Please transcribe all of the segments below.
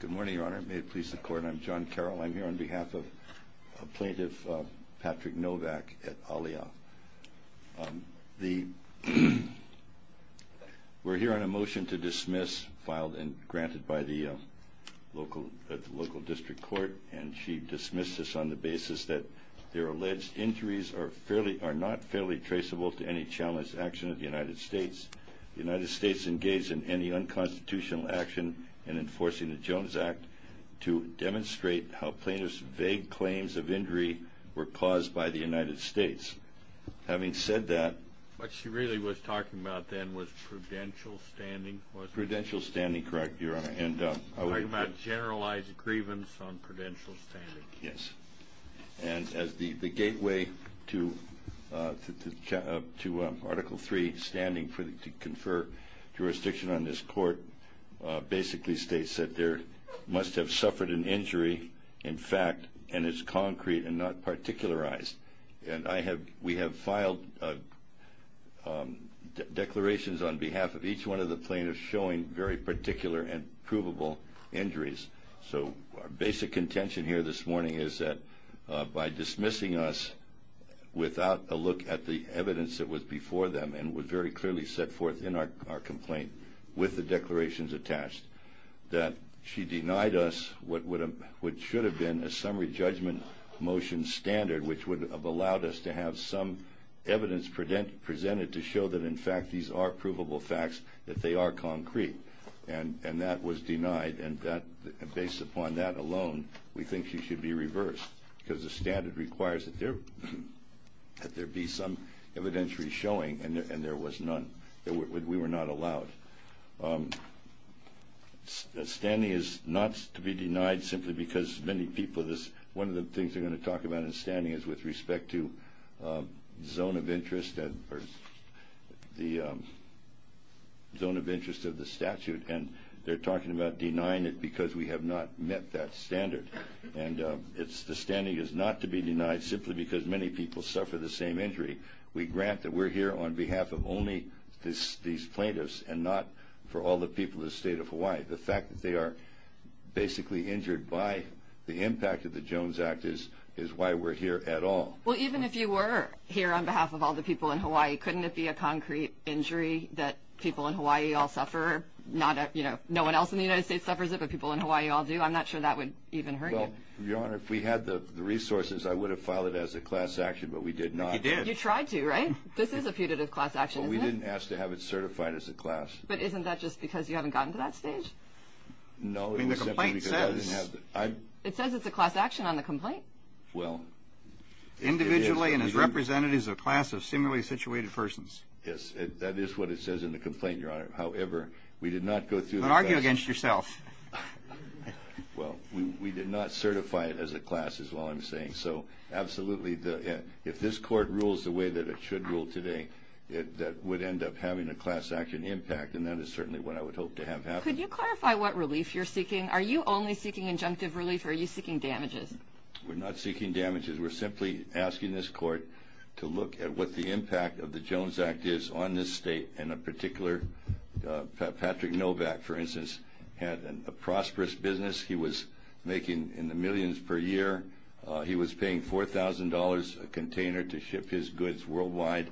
Good morning, Your Honor. May it please the Court, I'm John Carroll. I'm here on behalf of Plaintiff Patrick Novak at Alia. We're here on a motion to dismiss, filed and granted by the local district court, and she dismissed this on the basis that their alleged injuries are not fairly traceable to any challenged action of the United States. The United States engaged in any unconstitutional action in enforcing the Jones Act to demonstrate how plaintiff's vague claims of injury were caused by the United States. Having said that... What she really was talking about then was prudential standing. Prudential standing, correct, Your Honor. Talking about generalized grievance on prudential standing. Yes. And as the gateway to Article 3, standing to confer jurisdiction on this court, basically states that there must have suffered an injury, in fact, and it's concrete and not particularized. And we have filed declarations on behalf of each one of the plaintiffs showing very particular and provable injuries. So our basic contention here this morning is that by dismissing us without a look at the evidence that was before them and was very clearly set forth in our complaint with the declarations attached, that she denied us what should have been a summary judgment motion standard, which would have allowed us to have some evidence presented to show that, in fact, these are provable facts, that they are concrete. And that was denied. And based upon that alone, we think she should be reversed, because the standard requires that there be some evidentiary showing, and there was none. We were not allowed. Standing is not to be denied simply because many people... One of the things they're going to talk about in standing is with respect to the zone of interest of the statute, and they're talking about denying it because we have not met that standard. And the standing is not to be denied simply because many people suffer the same injury. We grant that we're here on behalf of only these plaintiffs and not for all the people of the state of Hawaii. The fact that they are basically injured by the impact of the Jones Act is why we're here at all. Well, even if you were here on behalf of all the people in Hawaii, couldn't it be a concrete injury that people in Hawaii all suffer? No one else in the United States suffers it, but people in Hawaii all do. I'm not sure that would even hurt you. Your Honor, if we had the resources, I would have filed it as a class action, but we did not. You did. You tried to, right? This is a putative class action, isn't it? Well, we didn't ask to have it certified as a class. But isn't that just because you haven't gotten to that stage? No, it was simply because I didn't have the... I mean, the complaint says... It says it's a class action on the complaint. Well... Individually and as representatives of a class of similarly situated persons. Yes, that is what it says in the complaint, Your Honor. However, we did not go through the process... Don't argue against yourself. Well, we did not certify it as a class, is all I'm saying. So, absolutely, if this court rules the way that it should rule today, that would end up having a class action impact, and that is certainly what I would hope to have happen. Could you clarify what relief you're seeking? Are you only seeking injunctive relief, or are you seeking damages? We're not seeking damages. We're simply asking this court to look at what the impact of the Jones Act is on this state in a particular... Patrick Novak, for instance, had a prosperous business. He was making in the millions per year. He was paying $4,000 a container to ship his goods worldwide,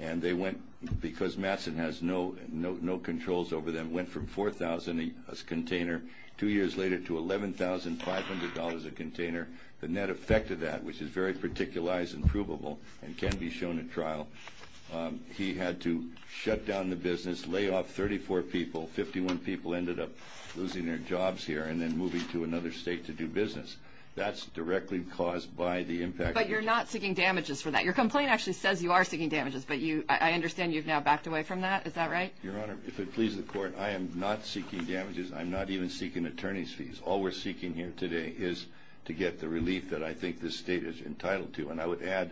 and they went, because Matson has no controls over them, went from $4,000 a container two years later to $11,500 a container. The net effect of that, which is very particularized and provable and can be shown at trial, he had to shut down the business, lay off 34 people. 51 people ended up losing their jobs here and then moving to another state to do business. That's directly caused by the impact. But you're not seeking damages for that. Your complaint actually says you are seeking damages, but I understand you've now backed away from that. Is that right? Your Honor, if it pleases the court, I am not seeking damages. I'm not even seeking attorney's fees. All we're seeking here today is to get the relief that I think this state is entitled to, and I would add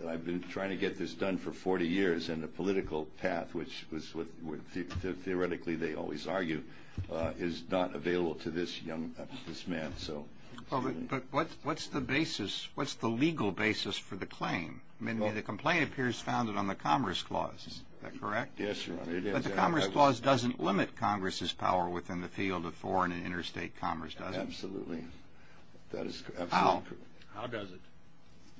that I've been trying to get this done for 40 years, and the political path, which theoretically they always argue, is not available to this man. But what's the legal basis for the claim? The complaint appears founded on the Commerce Clause. Is that correct? Yes, Your Honor, it is. But the Commerce Clause doesn't limit Congress's power within the field of foreign and interstate commerce, does it? Absolutely. How? How does it?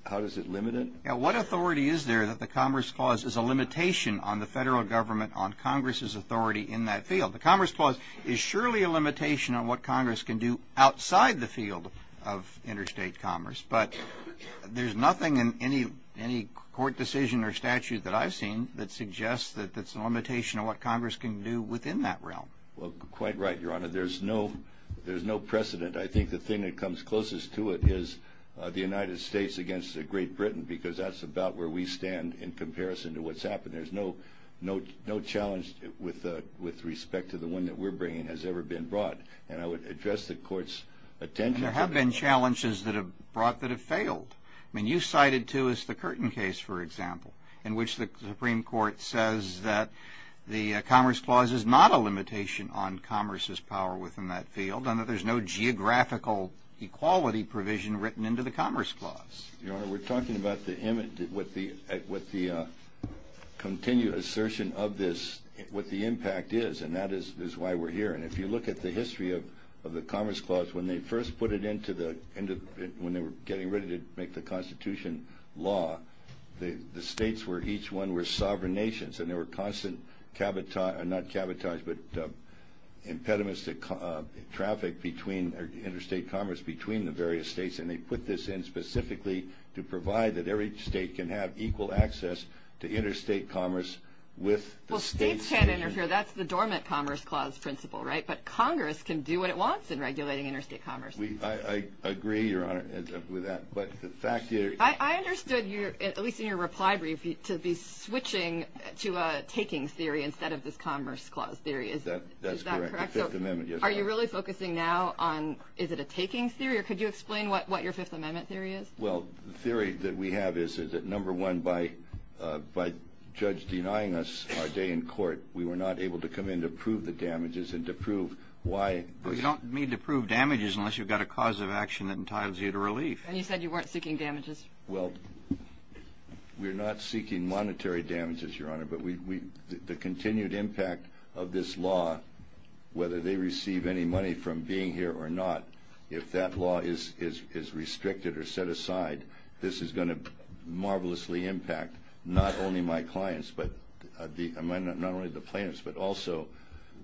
How does it limit it? What authority is there that the Commerce Clause is a limitation on the federal government on Congress's authority in that field? The Commerce Clause is surely a limitation on what Congress can do outside the field of interstate commerce, but there's nothing in any court decision or statute that I've seen that suggests that it's a limitation on what Congress can do within that realm. Well, quite right, Your Honor. There's no precedent. I think the thing that comes closest to it is the United States against Great Britain, because that's about where we stand in comparison to what's happened. There's no challenge with respect to the one that we're bringing has ever been brought. And I would address the Court's attention to that. And there have been challenges that have been brought that have failed. I mean, you cited, too, the Curtin case, for example, in which the Supreme Court says that the Commerce Clause is not a limitation on Commerce's power within that field and that there's no geographical equality provision written into the Commerce Clause. Your Honor, we're talking about the image, what the continued assertion of this, what the impact is, and that is why we're here. And if you look at the history of the Commerce Clause, when they first put it into the end of it, when they were getting ready to make the Constitution law, the states were each one were sovereign nations, and there were constant impediments to traffic between interstate commerce between the various states. And they put this in specifically to provide that every state can have equal access to interstate commerce with the states. Well, states can't interfere. That's the dormant Commerce Clause principle, right? But Congress can do what it wants in regulating interstate commerce. I agree, Your Honor, with that. I understood, at least in your reply brief, to be switching to a takings theory instead of this Commerce Clause theory. Is that correct? That's correct, the Fifth Amendment. Are you really focusing now on is it a takings theory, or could you explain what your Fifth Amendment theory is? Well, the theory that we have is that, number one, by a judge denying us our day in court, we were not able to come in to prove the damages and to prove why. Well, you don't need to prove damages unless you've got a cause of action that entitles you to relief. And you said you weren't seeking damages. Well, we're not seeking monetary damages, Your Honor, but the continued impact of this law, whether they receive any money from being here or not, if that law is restricted or set aside, this is going to marvelously impact not only my clients, not only the plaintiffs, but also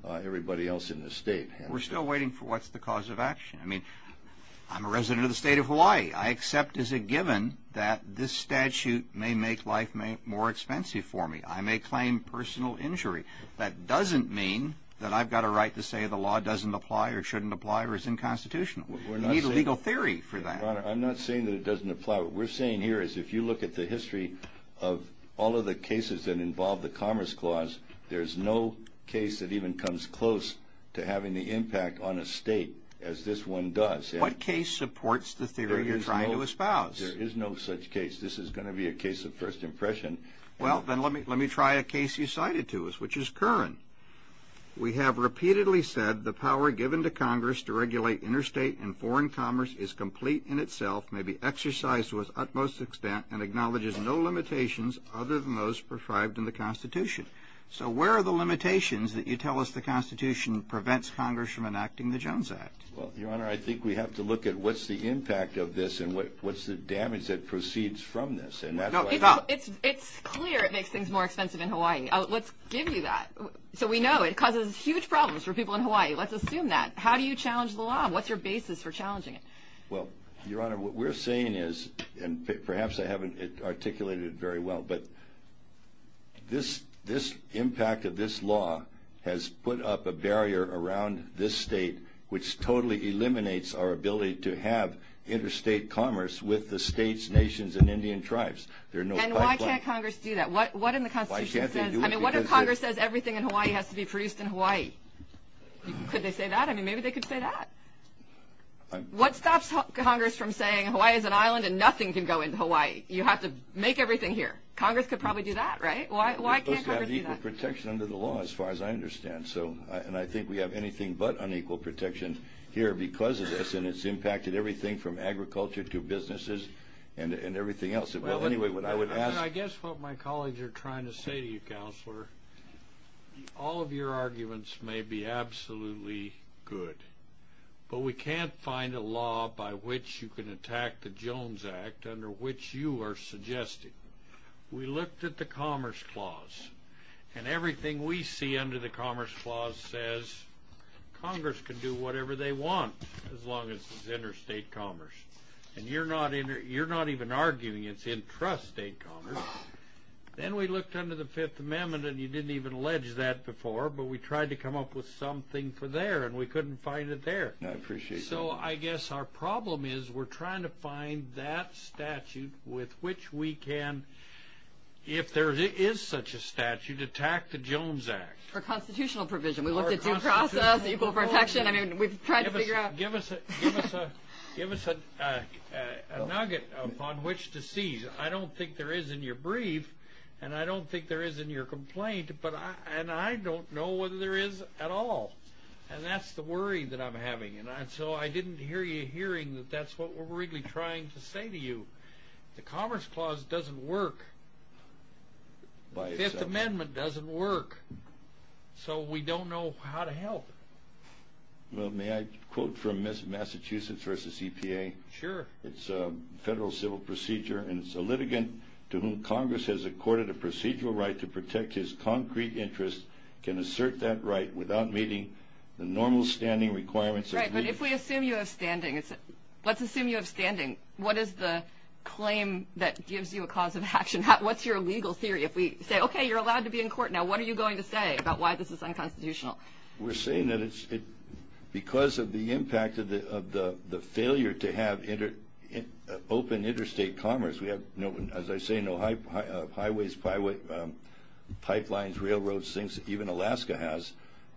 everybody else in the state. We're still waiting for what's the cause of action. I mean, I'm a resident of the state of Hawaii. I accept as a given that this statute may make life more expensive for me. I may claim personal injury. That doesn't mean that I've got a right to say the law doesn't apply or shouldn't apply or is unconstitutional. We need a legal theory for that. Your Honor, I'm not saying that it doesn't apply. What we're saying here is if you look at the history of all of the cases that involve the Commerce Clause, there's no case that even comes close to having the impact on a state as this one does. What case supports the theory you're trying to espouse? There is no such case. This is going to be a case of first impression. Well, then let me try a case you cited to us, which is current. We have repeatedly said the power given to Congress to regulate interstate and foreign commerce is complete in itself, may be exercised to its utmost extent, and acknowledges no limitations other than those prescribed in the Constitution. So where are the limitations that you tell us the Constitution prevents Congress from enacting the Jones Act? Well, Your Honor, I think we have to look at what's the impact of this and what's the damage that proceeds from this. It's clear it makes things more expensive in Hawaii. Let's give you that. So we know it causes huge problems for people in Hawaii. Let's assume that. How do you challenge the law? What's your basis for challenging it? Well, Your Honor, what we're saying is, and perhaps I haven't articulated it very well, but this impact of this law has put up a barrier around this state, which totally eliminates our ability to have interstate commerce with the states, nations, and Indian tribes. There are no pipelines. And why can't Congress do that? What in the Constitution says, I mean, what if Congress says everything in Hawaii has to be produced in Hawaii? Could they say that? I mean, maybe they could say that. What stops Congress from saying Hawaii is an island and nothing can go into Hawaii? You have to make everything here. Congress could probably do that, right? Why can't Congress do that? We're supposed to have equal protection under the law, as far as I understand. And I think we have anything but unequal protection here because of this, and it's impacted everything from agriculture to businesses and everything else. Well, anyway, what I would ask. I guess what my colleagues are trying to say to you, Counselor, all of your arguments may be absolutely good, but we can't find a law by which you can attack the Jones Act under which you are suggesting. We looked at the Commerce Clause, and everything we see under the Commerce Clause says Congress can do whatever they want, as long as it's interstate commerce. And you're not even arguing it's intrastate commerce. Then we looked under the Fifth Amendment, and you didn't even allege that before, but we tried to come up with something for there, and we couldn't find it there. I appreciate that. So I guess our problem is we're trying to find that statute with which we can, if there is such a statute, attack the Jones Act. Or constitutional provision. We looked at due process, equal protection. I mean, we've tried to figure out. Give us a nugget upon which to seize. I don't think there is in your brief, and I don't think there is in your complaint, and I don't know whether there is at all. And that's the worry that I'm having. And so I didn't hear you hearing that that's what we're really trying to say to you. The Commerce Clause doesn't work. The Fifth Amendment doesn't work. So we don't know how to help. Well, may I quote from Massachusetts v. EPA? Sure. It's a federal civil procedure, and it's a litigant to whom Congress has accorded a procedural right to protect his concrete interest, can assert that right without meeting the normal standing requirements. Right, but if we assume you have standing, let's assume you have standing. What is the claim that gives you a cause of action? What's your legal theory? If we say, okay, you're allowed to be in court now, what are you going to say about why this is unconstitutional? We're saying that because of the impact of the failure to have open interstate commerce, we have, as I say, no highways, pipelines, railroads, things that even Alaska has,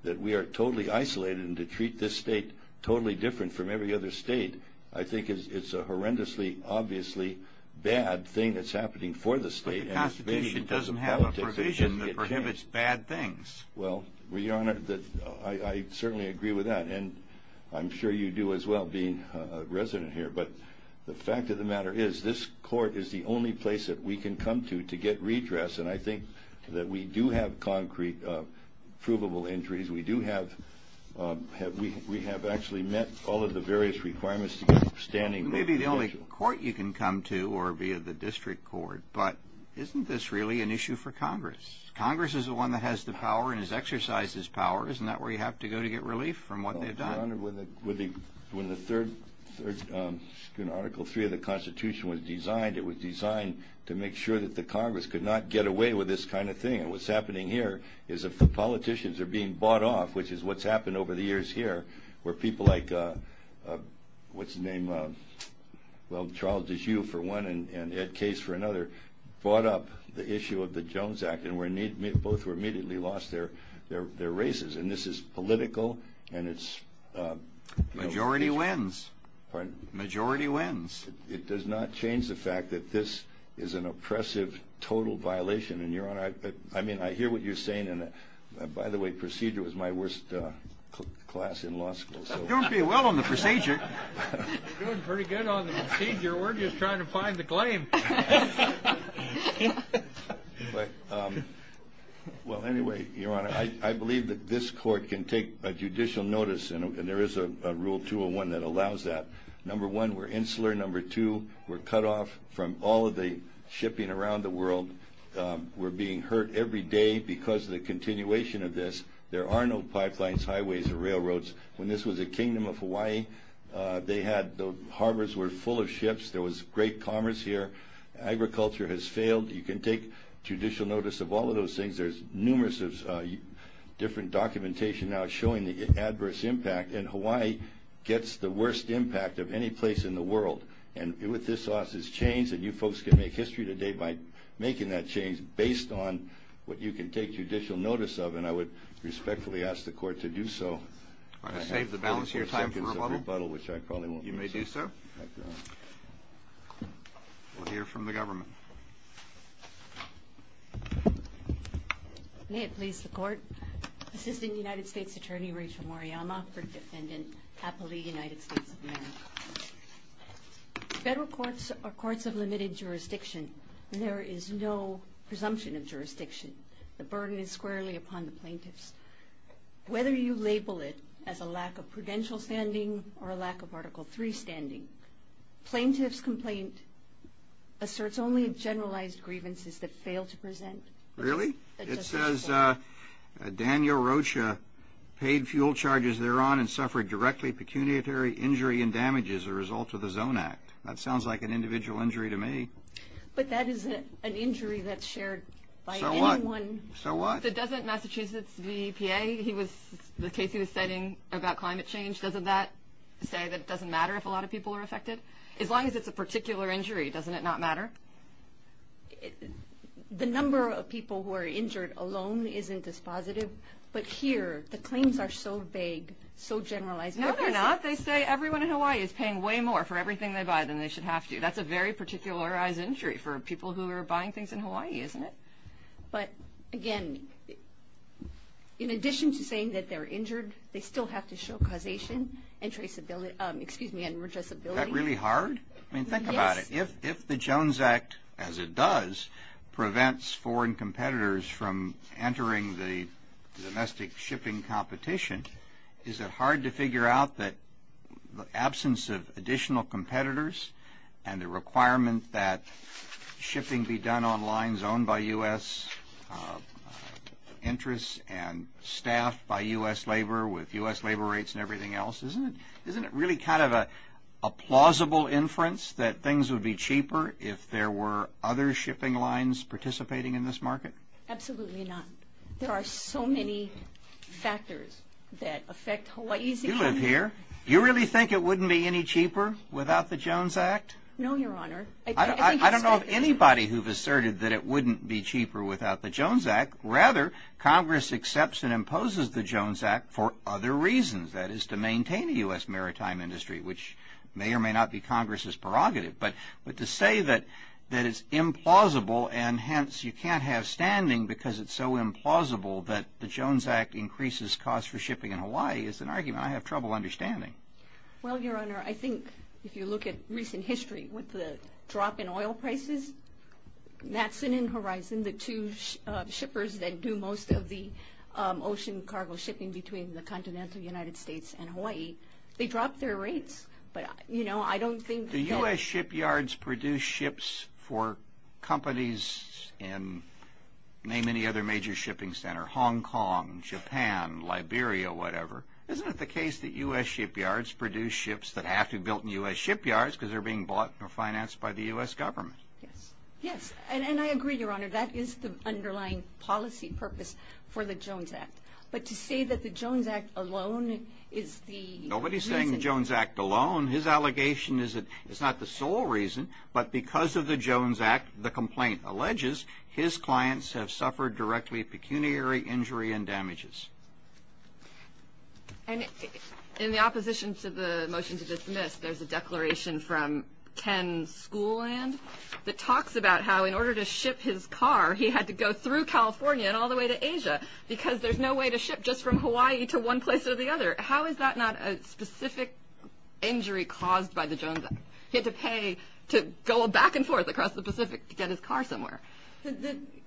that we are totally isolated and to treat this state totally different from every other state, I think it's a horrendously, obviously bad thing that's happening for the state. But the Constitution doesn't have a provision that prohibits bad things. Well, Your Honor, I certainly agree with that, and I'm sure you do as well, being a resident here. But the fact of the matter is this court is the only place that we can come to to get redress, and I think that we do have concrete, provable injuries. We have actually met all of the various requirements to get standing. You may be the only court you can come to or be of the district court, but isn't this really an issue for Congress? Congress is the one that has the power and has exercised this power. Isn't that where you have to go to get relief from what they've done? Well, Your Honor, when the third Article III of the Constitution was designed, it was designed to make sure that the Congress could not get away with this kind of thing. And what's happening here is that the politicians are being bought off, which is what's happened over the years here, where people like, what's his name, well, Charles DeJue for one and Ed Case for another, brought up the issue of the Jones Act, and both were immediately lost their races. And this is political, and it's... Majority wins. Pardon? Majority wins. It does not change the fact that this is an oppressive, total violation. And, Your Honor, I mean, I hear what you're saying. By the way, procedure was my worst class in law school. Doing pretty well on the procedure. Doing pretty good on the procedure. We're just trying to find the claim. Well, anyway, Your Honor, I believe that this court can take a judicial notice, and there is a Rule 201 that allows that. Number one, we're insular. Number two, we're cut off from all of the shipping around the world. We're being hurt every day because of the continuation of this. There are no pipelines, highways, or railroads. When this was the Kingdom of Hawaii, the harbors were full of ships. There was great commerce here. Agriculture has failed. You can take judicial notice of all of those things. There's numerous different documentation now showing the adverse impact, and Hawaii gets the worst impact of any place in the world. And with this law, it's changed, and you folks can make history today by making that change based on what you can take judicial notice of, and I would respectfully ask the Court to do so. All right, to save the balance here, time for rebuttal? Which I probably won't. You may do so. We'll hear from the government. May it please the Court. Assistant United States Attorney, Rachel Moriyama, for Defendant Apo Lee, United States of America. Federal courts are courts of limited jurisdiction. There is no presumption of jurisdiction. The burden is squarely upon the plaintiffs. Whether you label it as a lack of prudential standing or a lack of Article III standing, plaintiff's complaint asserts only generalized grievances that fail to present. Really? It says Daniel Rocha paid fuel charges thereon and suffered directly pecuniary injury and damage as a result of the Zone Act. That sounds like an individual injury to me. But that is an injury that's shared by anyone. So what? Didn't Massachusetts' VEPA, the case he was citing about climate change, doesn't that say that it doesn't matter if a lot of people are affected? As long as it's a particular injury, doesn't it not matter? The number of people who are injured alone isn't as positive, but here the claims are so vague, so generalized. No, they're not. They say everyone in Hawaii is paying way more for everything they buy than they should have to. That's a very particularized injury for people who are buying things in Hawaii, isn't it? But, again, in addition to saying that they're injured, they still have to show causation and traceability, excuse me, and addressability. Is that really hard? I mean, think about it. If the Jones Act, as it does, prevents foreign competitors from entering the domestic shipping competition, is it hard to figure out that the absence of additional competitors and the requirement that shipping be done on lines owned by U.S. interests and staffed by U.S. labor with U.S. labor rates and everything else, isn't it really kind of a plausible inference that things would be cheaper if there were other shipping lines participating in this market? Absolutely not. There are so many factors that affect Hawaii's economy. You live here. You really think it wouldn't be any cheaper without the Jones Act? No, Your Honor. I don't know of anybody who has asserted that it wouldn't be cheaper without the Jones Act. Rather, Congress accepts and imposes the Jones Act for other reasons. That is, to maintain the U.S. maritime industry, which may or may not be Congress's prerogative. But to say that it's implausible and, hence, you can't have standing because it's so implausible that the Jones Act increases costs for shipping in Hawaii is an argument I have trouble understanding. Well, Your Honor, I think if you look at recent history with the drop in oil prices, that's an end horizon. The two shippers that do most of the ocean cargo shipping between the continental United States and Hawaii, they drop their rates. But, you know, I don't think that... Do U.S. shipyards produce ships for companies in, name any other major shipping center, Hong Kong, Japan, Liberia, whatever? Isn't it the case that U.S. shipyards produce ships that have to be built in U.S. shipyards because they're being bought or financed by the U.S. government? Yes. Yes. And I agree, Your Honor, that is the underlying policy purpose for the Jones Act. But to say that the Jones Act alone is the reason... Nobody's saying the Jones Act alone. His allegation is that it's not the sole reason, but because of the Jones Act, the complaint alleges his clients have suffered directly pecuniary injury and damages. And in the opposition to the motion to dismiss, there's a declaration from Ken Schooland that talks about how in order to ship his car, he had to go through California and all the way to Asia because there's no way to ship just from Hawaii to one place or the other. How is that not a specific injury caused by the Jones Act? He had to pay to go back and forth across the Pacific to get his car somewhere.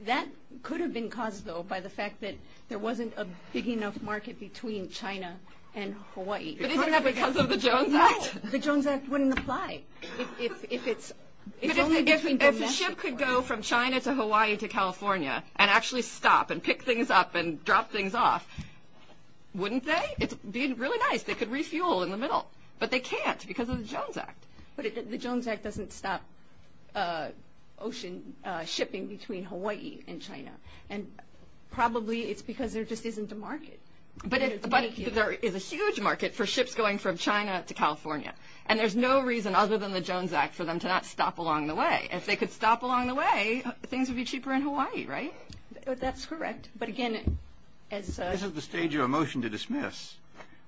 That could have been caused, though, by the fact that there wasn't a big enough market between China and Hawaii. But isn't that because of the Jones Act? No. The Jones Act wouldn't apply if it's only between two nations. But if a ship could go from China to Hawaii to California and actually stop and pick things up and drop things off, wouldn't they? It'd be really nice. They could refuel in the middle. But they can't because of the Jones Act. But the Jones Act doesn't stop ocean shipping between Hawaii and China. And probably it's because there just isn't a market. But there is a huge market for ships going from China to California. And there's no reason other than the Jones Act for them to not stop along the way. If they could stop along the way, things would be cheaper in Hawaii, right? That's correct. But again, as a— This is the stage of a motion to dismiss.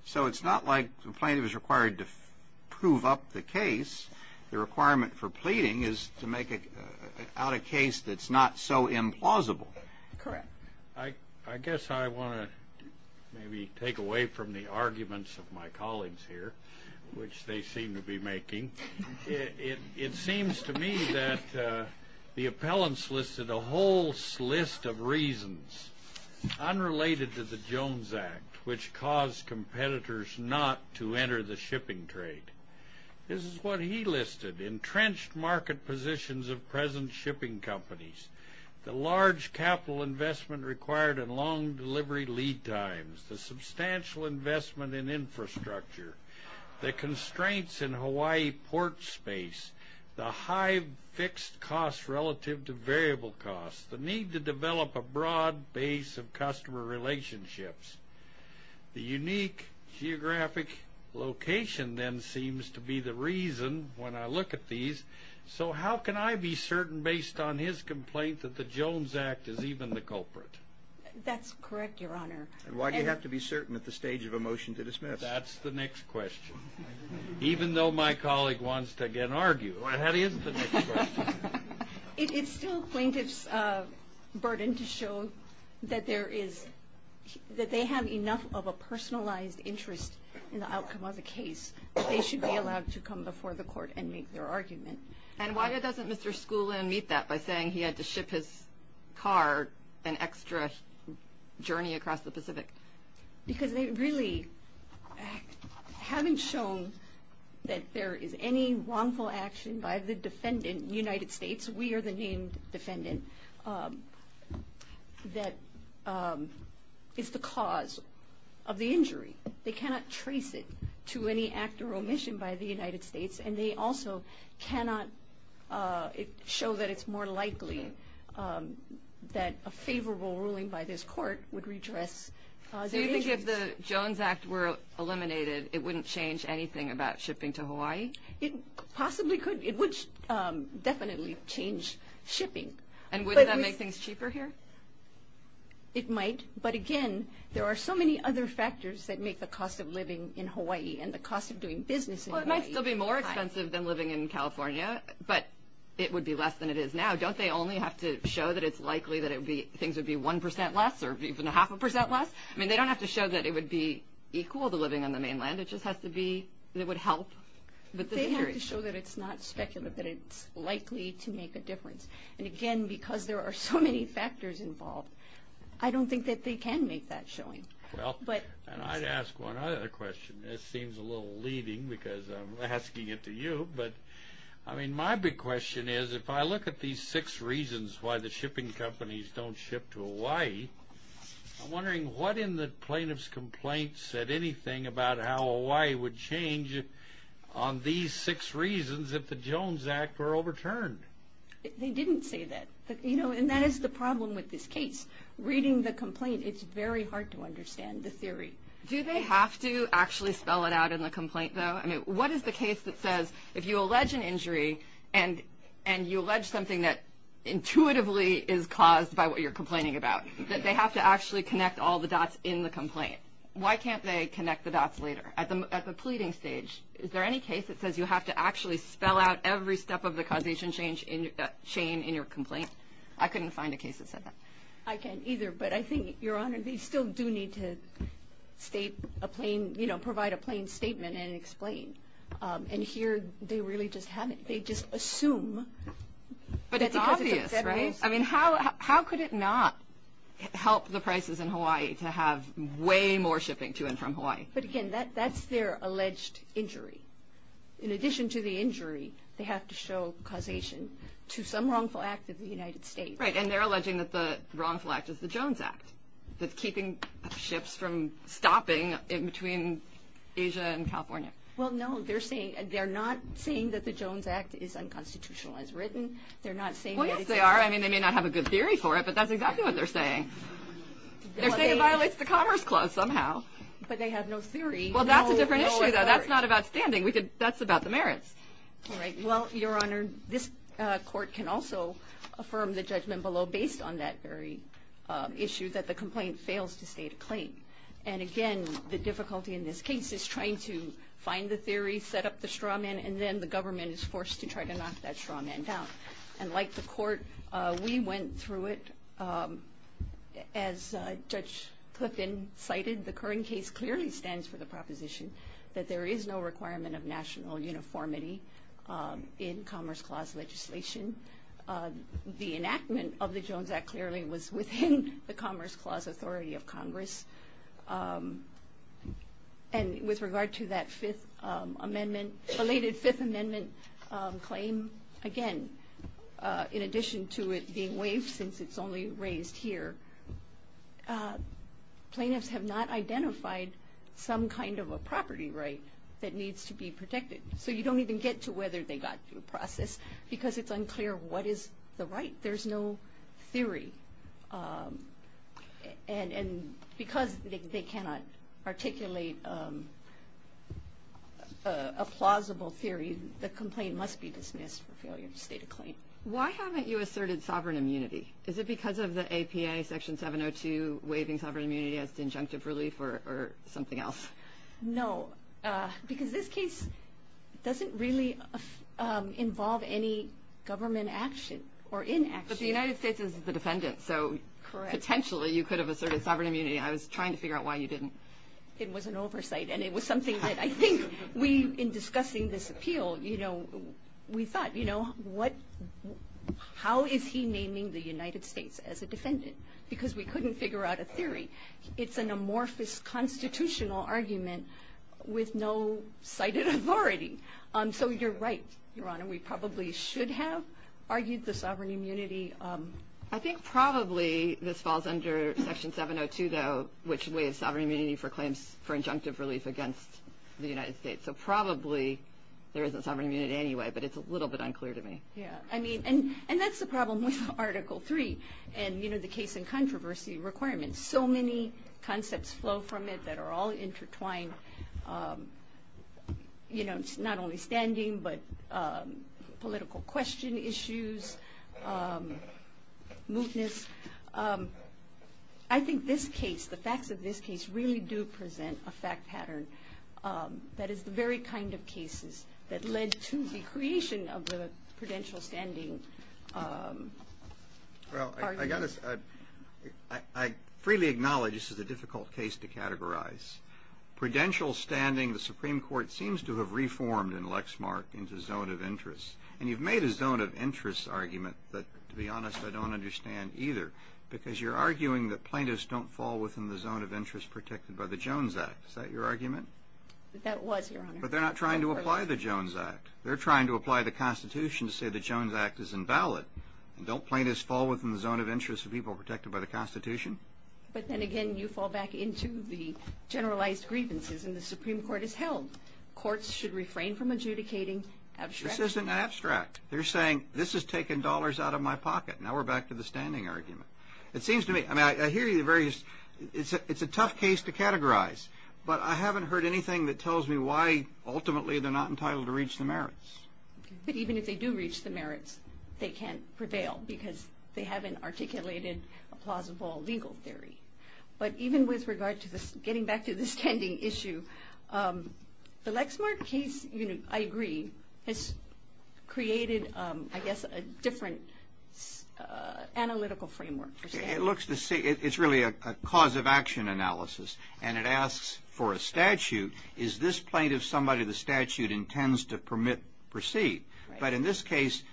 So it's not like the plaintiff is required to prove up the case. The requirement for pleading is to make out a case that's not so implausible. Correct. I guess I want to maybe take away from the arguments of my colleagues here, which they seem to be making. It seems to me that the appellants listed a whole list of reasons unrelated to the Jones Act, which caused competitors not to enter the shipping trade. This is what he listed. Entrenched market positions of present shipping companies. The large capital investment required in long delivery lead times. The substantial investment in infrastructure. The constraints in Hawaii port space. The high fixed costs relative to variable costs. The need to develop a broad base of customer relationships. The unique geographic location then seems to be the reason when I look at these. So how can I be certain based on his complaint that the Jones Act is even the culprit? That's correct, Your Honor. Why do you have to be certain at the stage of a motion to dismiss? That's the next question. Even though my colleague wants to again argue. That is the next question. It's still plaintiff's burden to show that there is, that they have enough of a personalized interest in the outcome of the case that they should be allowed to come before the court and make their argument. And why doesn't Mr. Skoulin meet that by saying he had to ship his car an extra journey across the Pacific? Because they really haven't shown that there is any wrongful action by the defendant in the United States. We are the named defendant that is the cause of the injury. They cannot trace it to any act or omission by the United States. And they also cannot show that it's more likely that a favorable ruling by this court would redress their injuries. So you think if the Jones Act were eliminated, it wouldn't change anything about shipping to Hawaii? It possibly could. It would definitely change shipping. And would that make things cheaper here? It might. But again, there are so many other factors that make the cost of living in Hawaii and the cost of doing business in Hawaii high. Well, it might still be more expensive than living in California, but it would be less than it is now. Don't they only have to show that it's likely that things would be 1% less or even a half a percent less? I mean, they don't have to show that it would be equal to living on the mainland. It just has to be that it would help. They have to show that it's not speculative, that it's likely to make a difference. And again, because there are so many factors involved, I don't think that they can make that showing. I'd ask one other question. This seems a little leading because I'm asking it to you. But, I mean, my big question is, if I look at these six reasons why the shipping companies don't ship to Hawaii, I'm wondering what in the plaintiff's complaint said anything about how Hawaii would change on these six reasons if the Jones Act were overturned? They didn't say that. And that is the problem with this case. Reading the complaint, it's very hard to understand the theory. Do they have to actually spell it out in the complaint, though? I mean, what is the case that says if you allege an injury and you allege something that intuitively is caused by what you're complaining about, that they have to actually connect all the dots in the complaint? Why can't they connect the dots later? At the pleading stage, is there any case that says you have to actually spell out every step of the causation chain in your complaint? I couldn't find a case that said that. I can't either. But I think, Your Honor, they still do need to provide a plain statement and explain. And here, they really just haven't. They just assume. But it's obvious, right? I mean, how could it not help the prices in Hawaii to have way more shipping to and from Hawaii? But, again, that's their alleged injury. In addition to the injury, they have to show causation to some wrongful act of the United States. Right. And they're alleging that the wrongful act is the Jones Act, that's keeping ships from stopping in between Asia and California. Well, no. They're not saying that the Jones Act is unconstitutional as written. They're not saying that it is. Well, yes, they are. I mean, they may not have a good theory for it, but that's exactly what they're saying. They're saying it violates the Commerce Clause somehow. But they have no theory. Well, that's a different issue, though. That's not about standing. That's about the merits. All right. Well, Your Honor, this court can also affirm the judgment below, based on that very issue, that the complaint fails to state a claim. And, again, the difficulty in this case is trying to find the theory, set up the straw man, and then the government is forced to try to knock that straw man down. And like the court, we went through it. As Judge Cliffin cited, the current case clearly stands for the proposition that there is no requirement of national uniformity in Commerce Clause legislation. The enactment of the Jones Act clearly was within the Commerce Clause authority of Congress. And with regard to that fifth amendment, related fifth amendment claim, again, in addition to it being waived since it's only raised here, plaintiffs have not identified some kind of a property right that needs to be protected. So you don't even get to whether they got through the process because it's unclear what is the right. There's no theory. And because they cannot articulate a plausible theory, the complaint must be dismissed for failure to state a claim. Why haven't you asserted sovereign immunity? Is it because of the APA Section 702 waiving sovereign immunity as injunctive relief or something else? No, because this case doesn't really involve any government action or inaction. But the United States is the defendant, so potentially you could have asserted sovereign immunity. I was trying to figure out why you didn't. It was an oversight, and it was something that I think we, in discussing this appeal, we thought, you know, how is he naming the United States as a defendant? Because we couldn't figure out a theory. It's an amorphous constitutional argument with no cited authority. So you're right, Your Honor, we probably should have argued the sovereign immunity. I think probably this falls under Section 702, though, which waives sovereign immunity for claims for injunctive relief against the United States. So probably there isn't sovereign immunity anyway, but it's a little bit unclear to me. Yeah, I mean, and that's the problem with Article III and, you know, the case and controversy requirements. So many concepts flow from it that are all intertwined. You know, it's not only standing, but political question issues, mootness. I think this case, the facts of this case, really do present a fact pattern that is the very kind of cases that led to the creation of the prudential standing argument. Well, I freely acknowledge this is a difficult case to categorize. Prudential standing, the Supreme Court seems to have reformed in Lexmark into zone of interest, and you've made a zone of interest argument that, to be honest, I don't understand either, because you're arguing that plaintiffs don't fall within the zone of interest protected by the Jones Act. Is that your argument? That was, Your Honor. But they're not trying to apply the Jones Act. They're trying to apply the Constitution to say the Jones Act is invalid. Don't plaintiffs fall within the zone of interest of people protected by the Constitution? But then again, you fall back into the generalized grievances, and the Supreme Court has held that courts should refrain from adjudicating abstract. This isn't abstract. They're saying this has taken dollars out of my pocket. Now we're back to the standing argument. It seems to me, I mean, I hear you, it's a tough case to categorize, but I haven't heard anything that tells me why ultimately they're not entitled to reach the merits. But even if they do reach the merits, they can't prevail because they haven't articulated a plausible legal theory. But even with regard to getting back to the standing issue, the Lexmark case, I agree, has created, I guess, a different analytical framework. It's really a cause of action analysis, and it asks for a statute. Is this plaintiff somebody the statute intends to permit proceed? But in this case,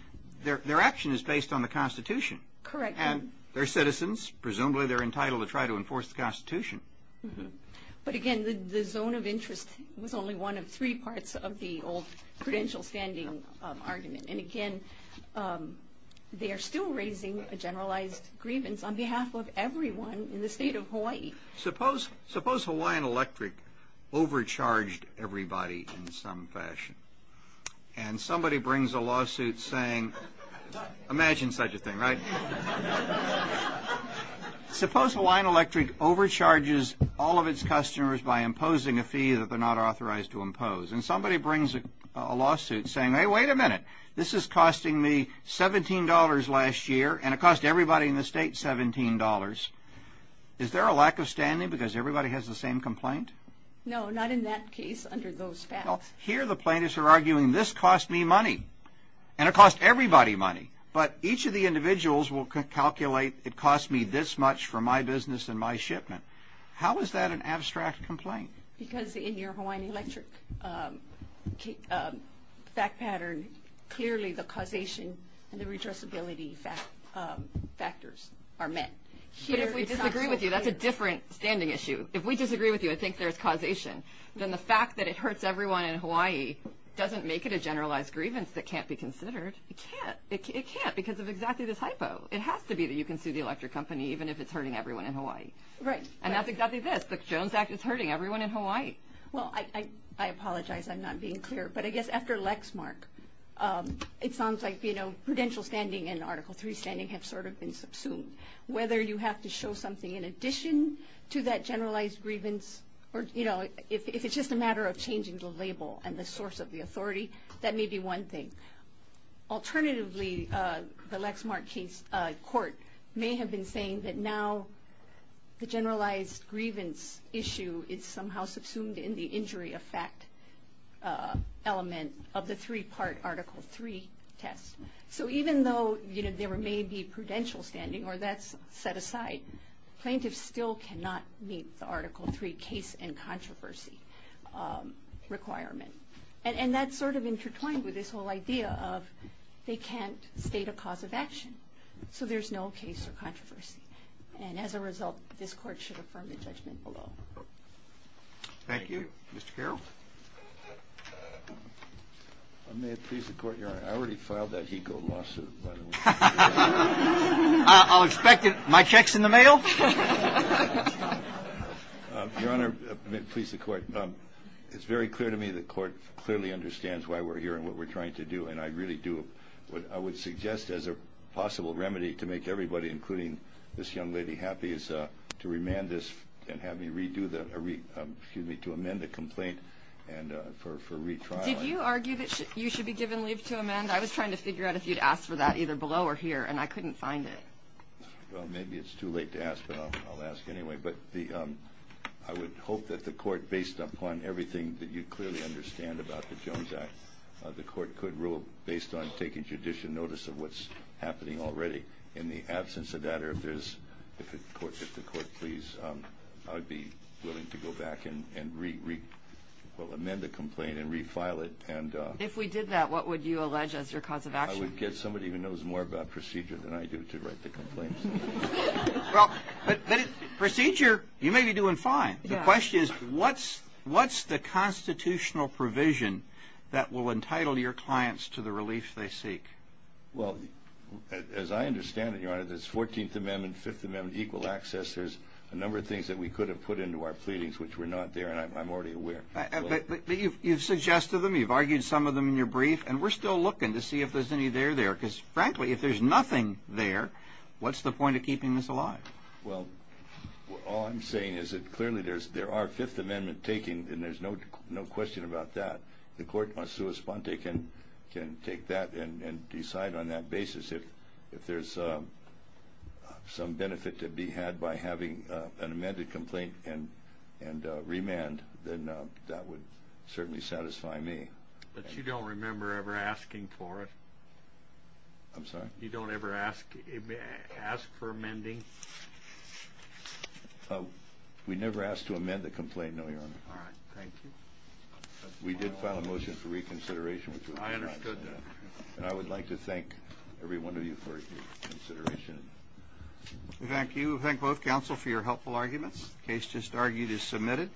their action is based on the Constitution. Correct. And they're citizens. Presumably they're entitled to try to enforce the Constitution. But again, the zone of interest was only one of three parts of the old credential standing argument. And again, they are still raising a generalized grievance on behalf of everyone in the state of Hawaii. Suppose Hawaiian Electric overcharged everybody in some fashion, and somebody brings a lawsuit saying, imagine such a thing, right? Suppose Hawaiian Electric overcharges all of its customers by imposing a fee that they're not authorized to impose, and somebody brings a lawsuit saying, hey, wait a minute. This is costing me $17 last year, and it cost everybody in the state $17. Is there a lack of standing because everybody has the same complaint? No, not in that case under those facts. Well, here the plaintiffs are arguing this cost me money, and it cost everybody money. But each of the individuals will calculate it cost me this much for my business and my shipment. How is that an abstract complaint? Because in your Hawaiian Electric fact pattern, clearly the causation and the redressability factors are met. But if we disagree with you, that's a different standing issue. If we disagree with you and think there's causation, then the fact that it hurts everyone in Hawaii doesn't make it a generalized grievance that can't be considered. It can't. It can't because of exactly this hypo. It has to be that you can sue the electric company even if it's hurting everyone in Hawaii. Right. And that's exactly this. The Jones Act is hurting everyone in Hawaii. Well, I apologize. I'm not being clear. But I guess after Lexmark, it sounds like, you know, prudential standing and Article III standing have sort of been subsumed. Whether you have to show something in addition to that generalized grievance or, you know, if it's just a matter of changing the label and the source of the authority, that may be one thing. Alternatively, the Lexmark court may have been saying that now the generalized grievance issue is somehow subsumed in the injury effect element of the three-part Article III test. So even though, you know, there may be prudential standing or that's set aside, plaintiffs still cannot meet the Article III case and controversy requirement. And that's sort of intertwined with this whole idea of they can't state a cause of action. So there's no case or controversy. And as a result, this court should affirm the judgment below. Thank you. Mr. Carroll? May it please the Court, Your Honor. I already filed that HECO lawsuit. I'll expect it. My check's in the mail. Your Honor, may it please the Court. It's very clear to me the Court clearly understands why we're here and what we're trying to do. And I really do. What I would suggest as a possible remedy to make everybody, including this young lady, happy, is to remand this and have me amend the complaint for retrial. Did you argue that you should be given leave to amend? I was trying to figure out if you'd ask for that either below or here, and I couldn't find it. Well, maybe it's too late to ask, but I'll ask anyway. But I would hope that the Court, based upon everything that you clearly understand about the Jones Act, the Court could rule based on taking judicial notice of what's happening already. In the absence of that, if the Court please, I would be willing to go back and amend the complaint and refile it. If we did that, what would you allege as your cause of action? I would guess somebody who knows more about procedure than I do to write the complaint. But procedure, you may be doing fine. The question is, what's the constitutional provision that will entitle your clients to the relief they seek? Well, as I understand it, Your Honor, there's 14th Amendment, Fifth Amendment, equal access. There's a number of things that we could have put into our pleadings which were not there, and I'm already aware. But you've suggested them, you've argued some of them in your brief, and we're still looking to see if there's any there there. Because, frankly, if there's nothing there, what's the point of keeping this alive? Well, all I'm saying is that clearly there are Fifth Amendment taking, and there's no question about that. The Court can take that and decide on that basis. If there's some benefit to be had by having an amended complaint and remand, then that would certainly satisfy me. But you don't remember ever asking for it? I'm sorry? You don't ever ask for amending? We never asked to amend the complaint, no, Your Honor. All right. Thank you. We did file a motion for reconsideration. I understood that. And I would like to thank every one of you for your consideration. Thank you. Thank both counsel for your helpful arguments. The case just argued is submitted.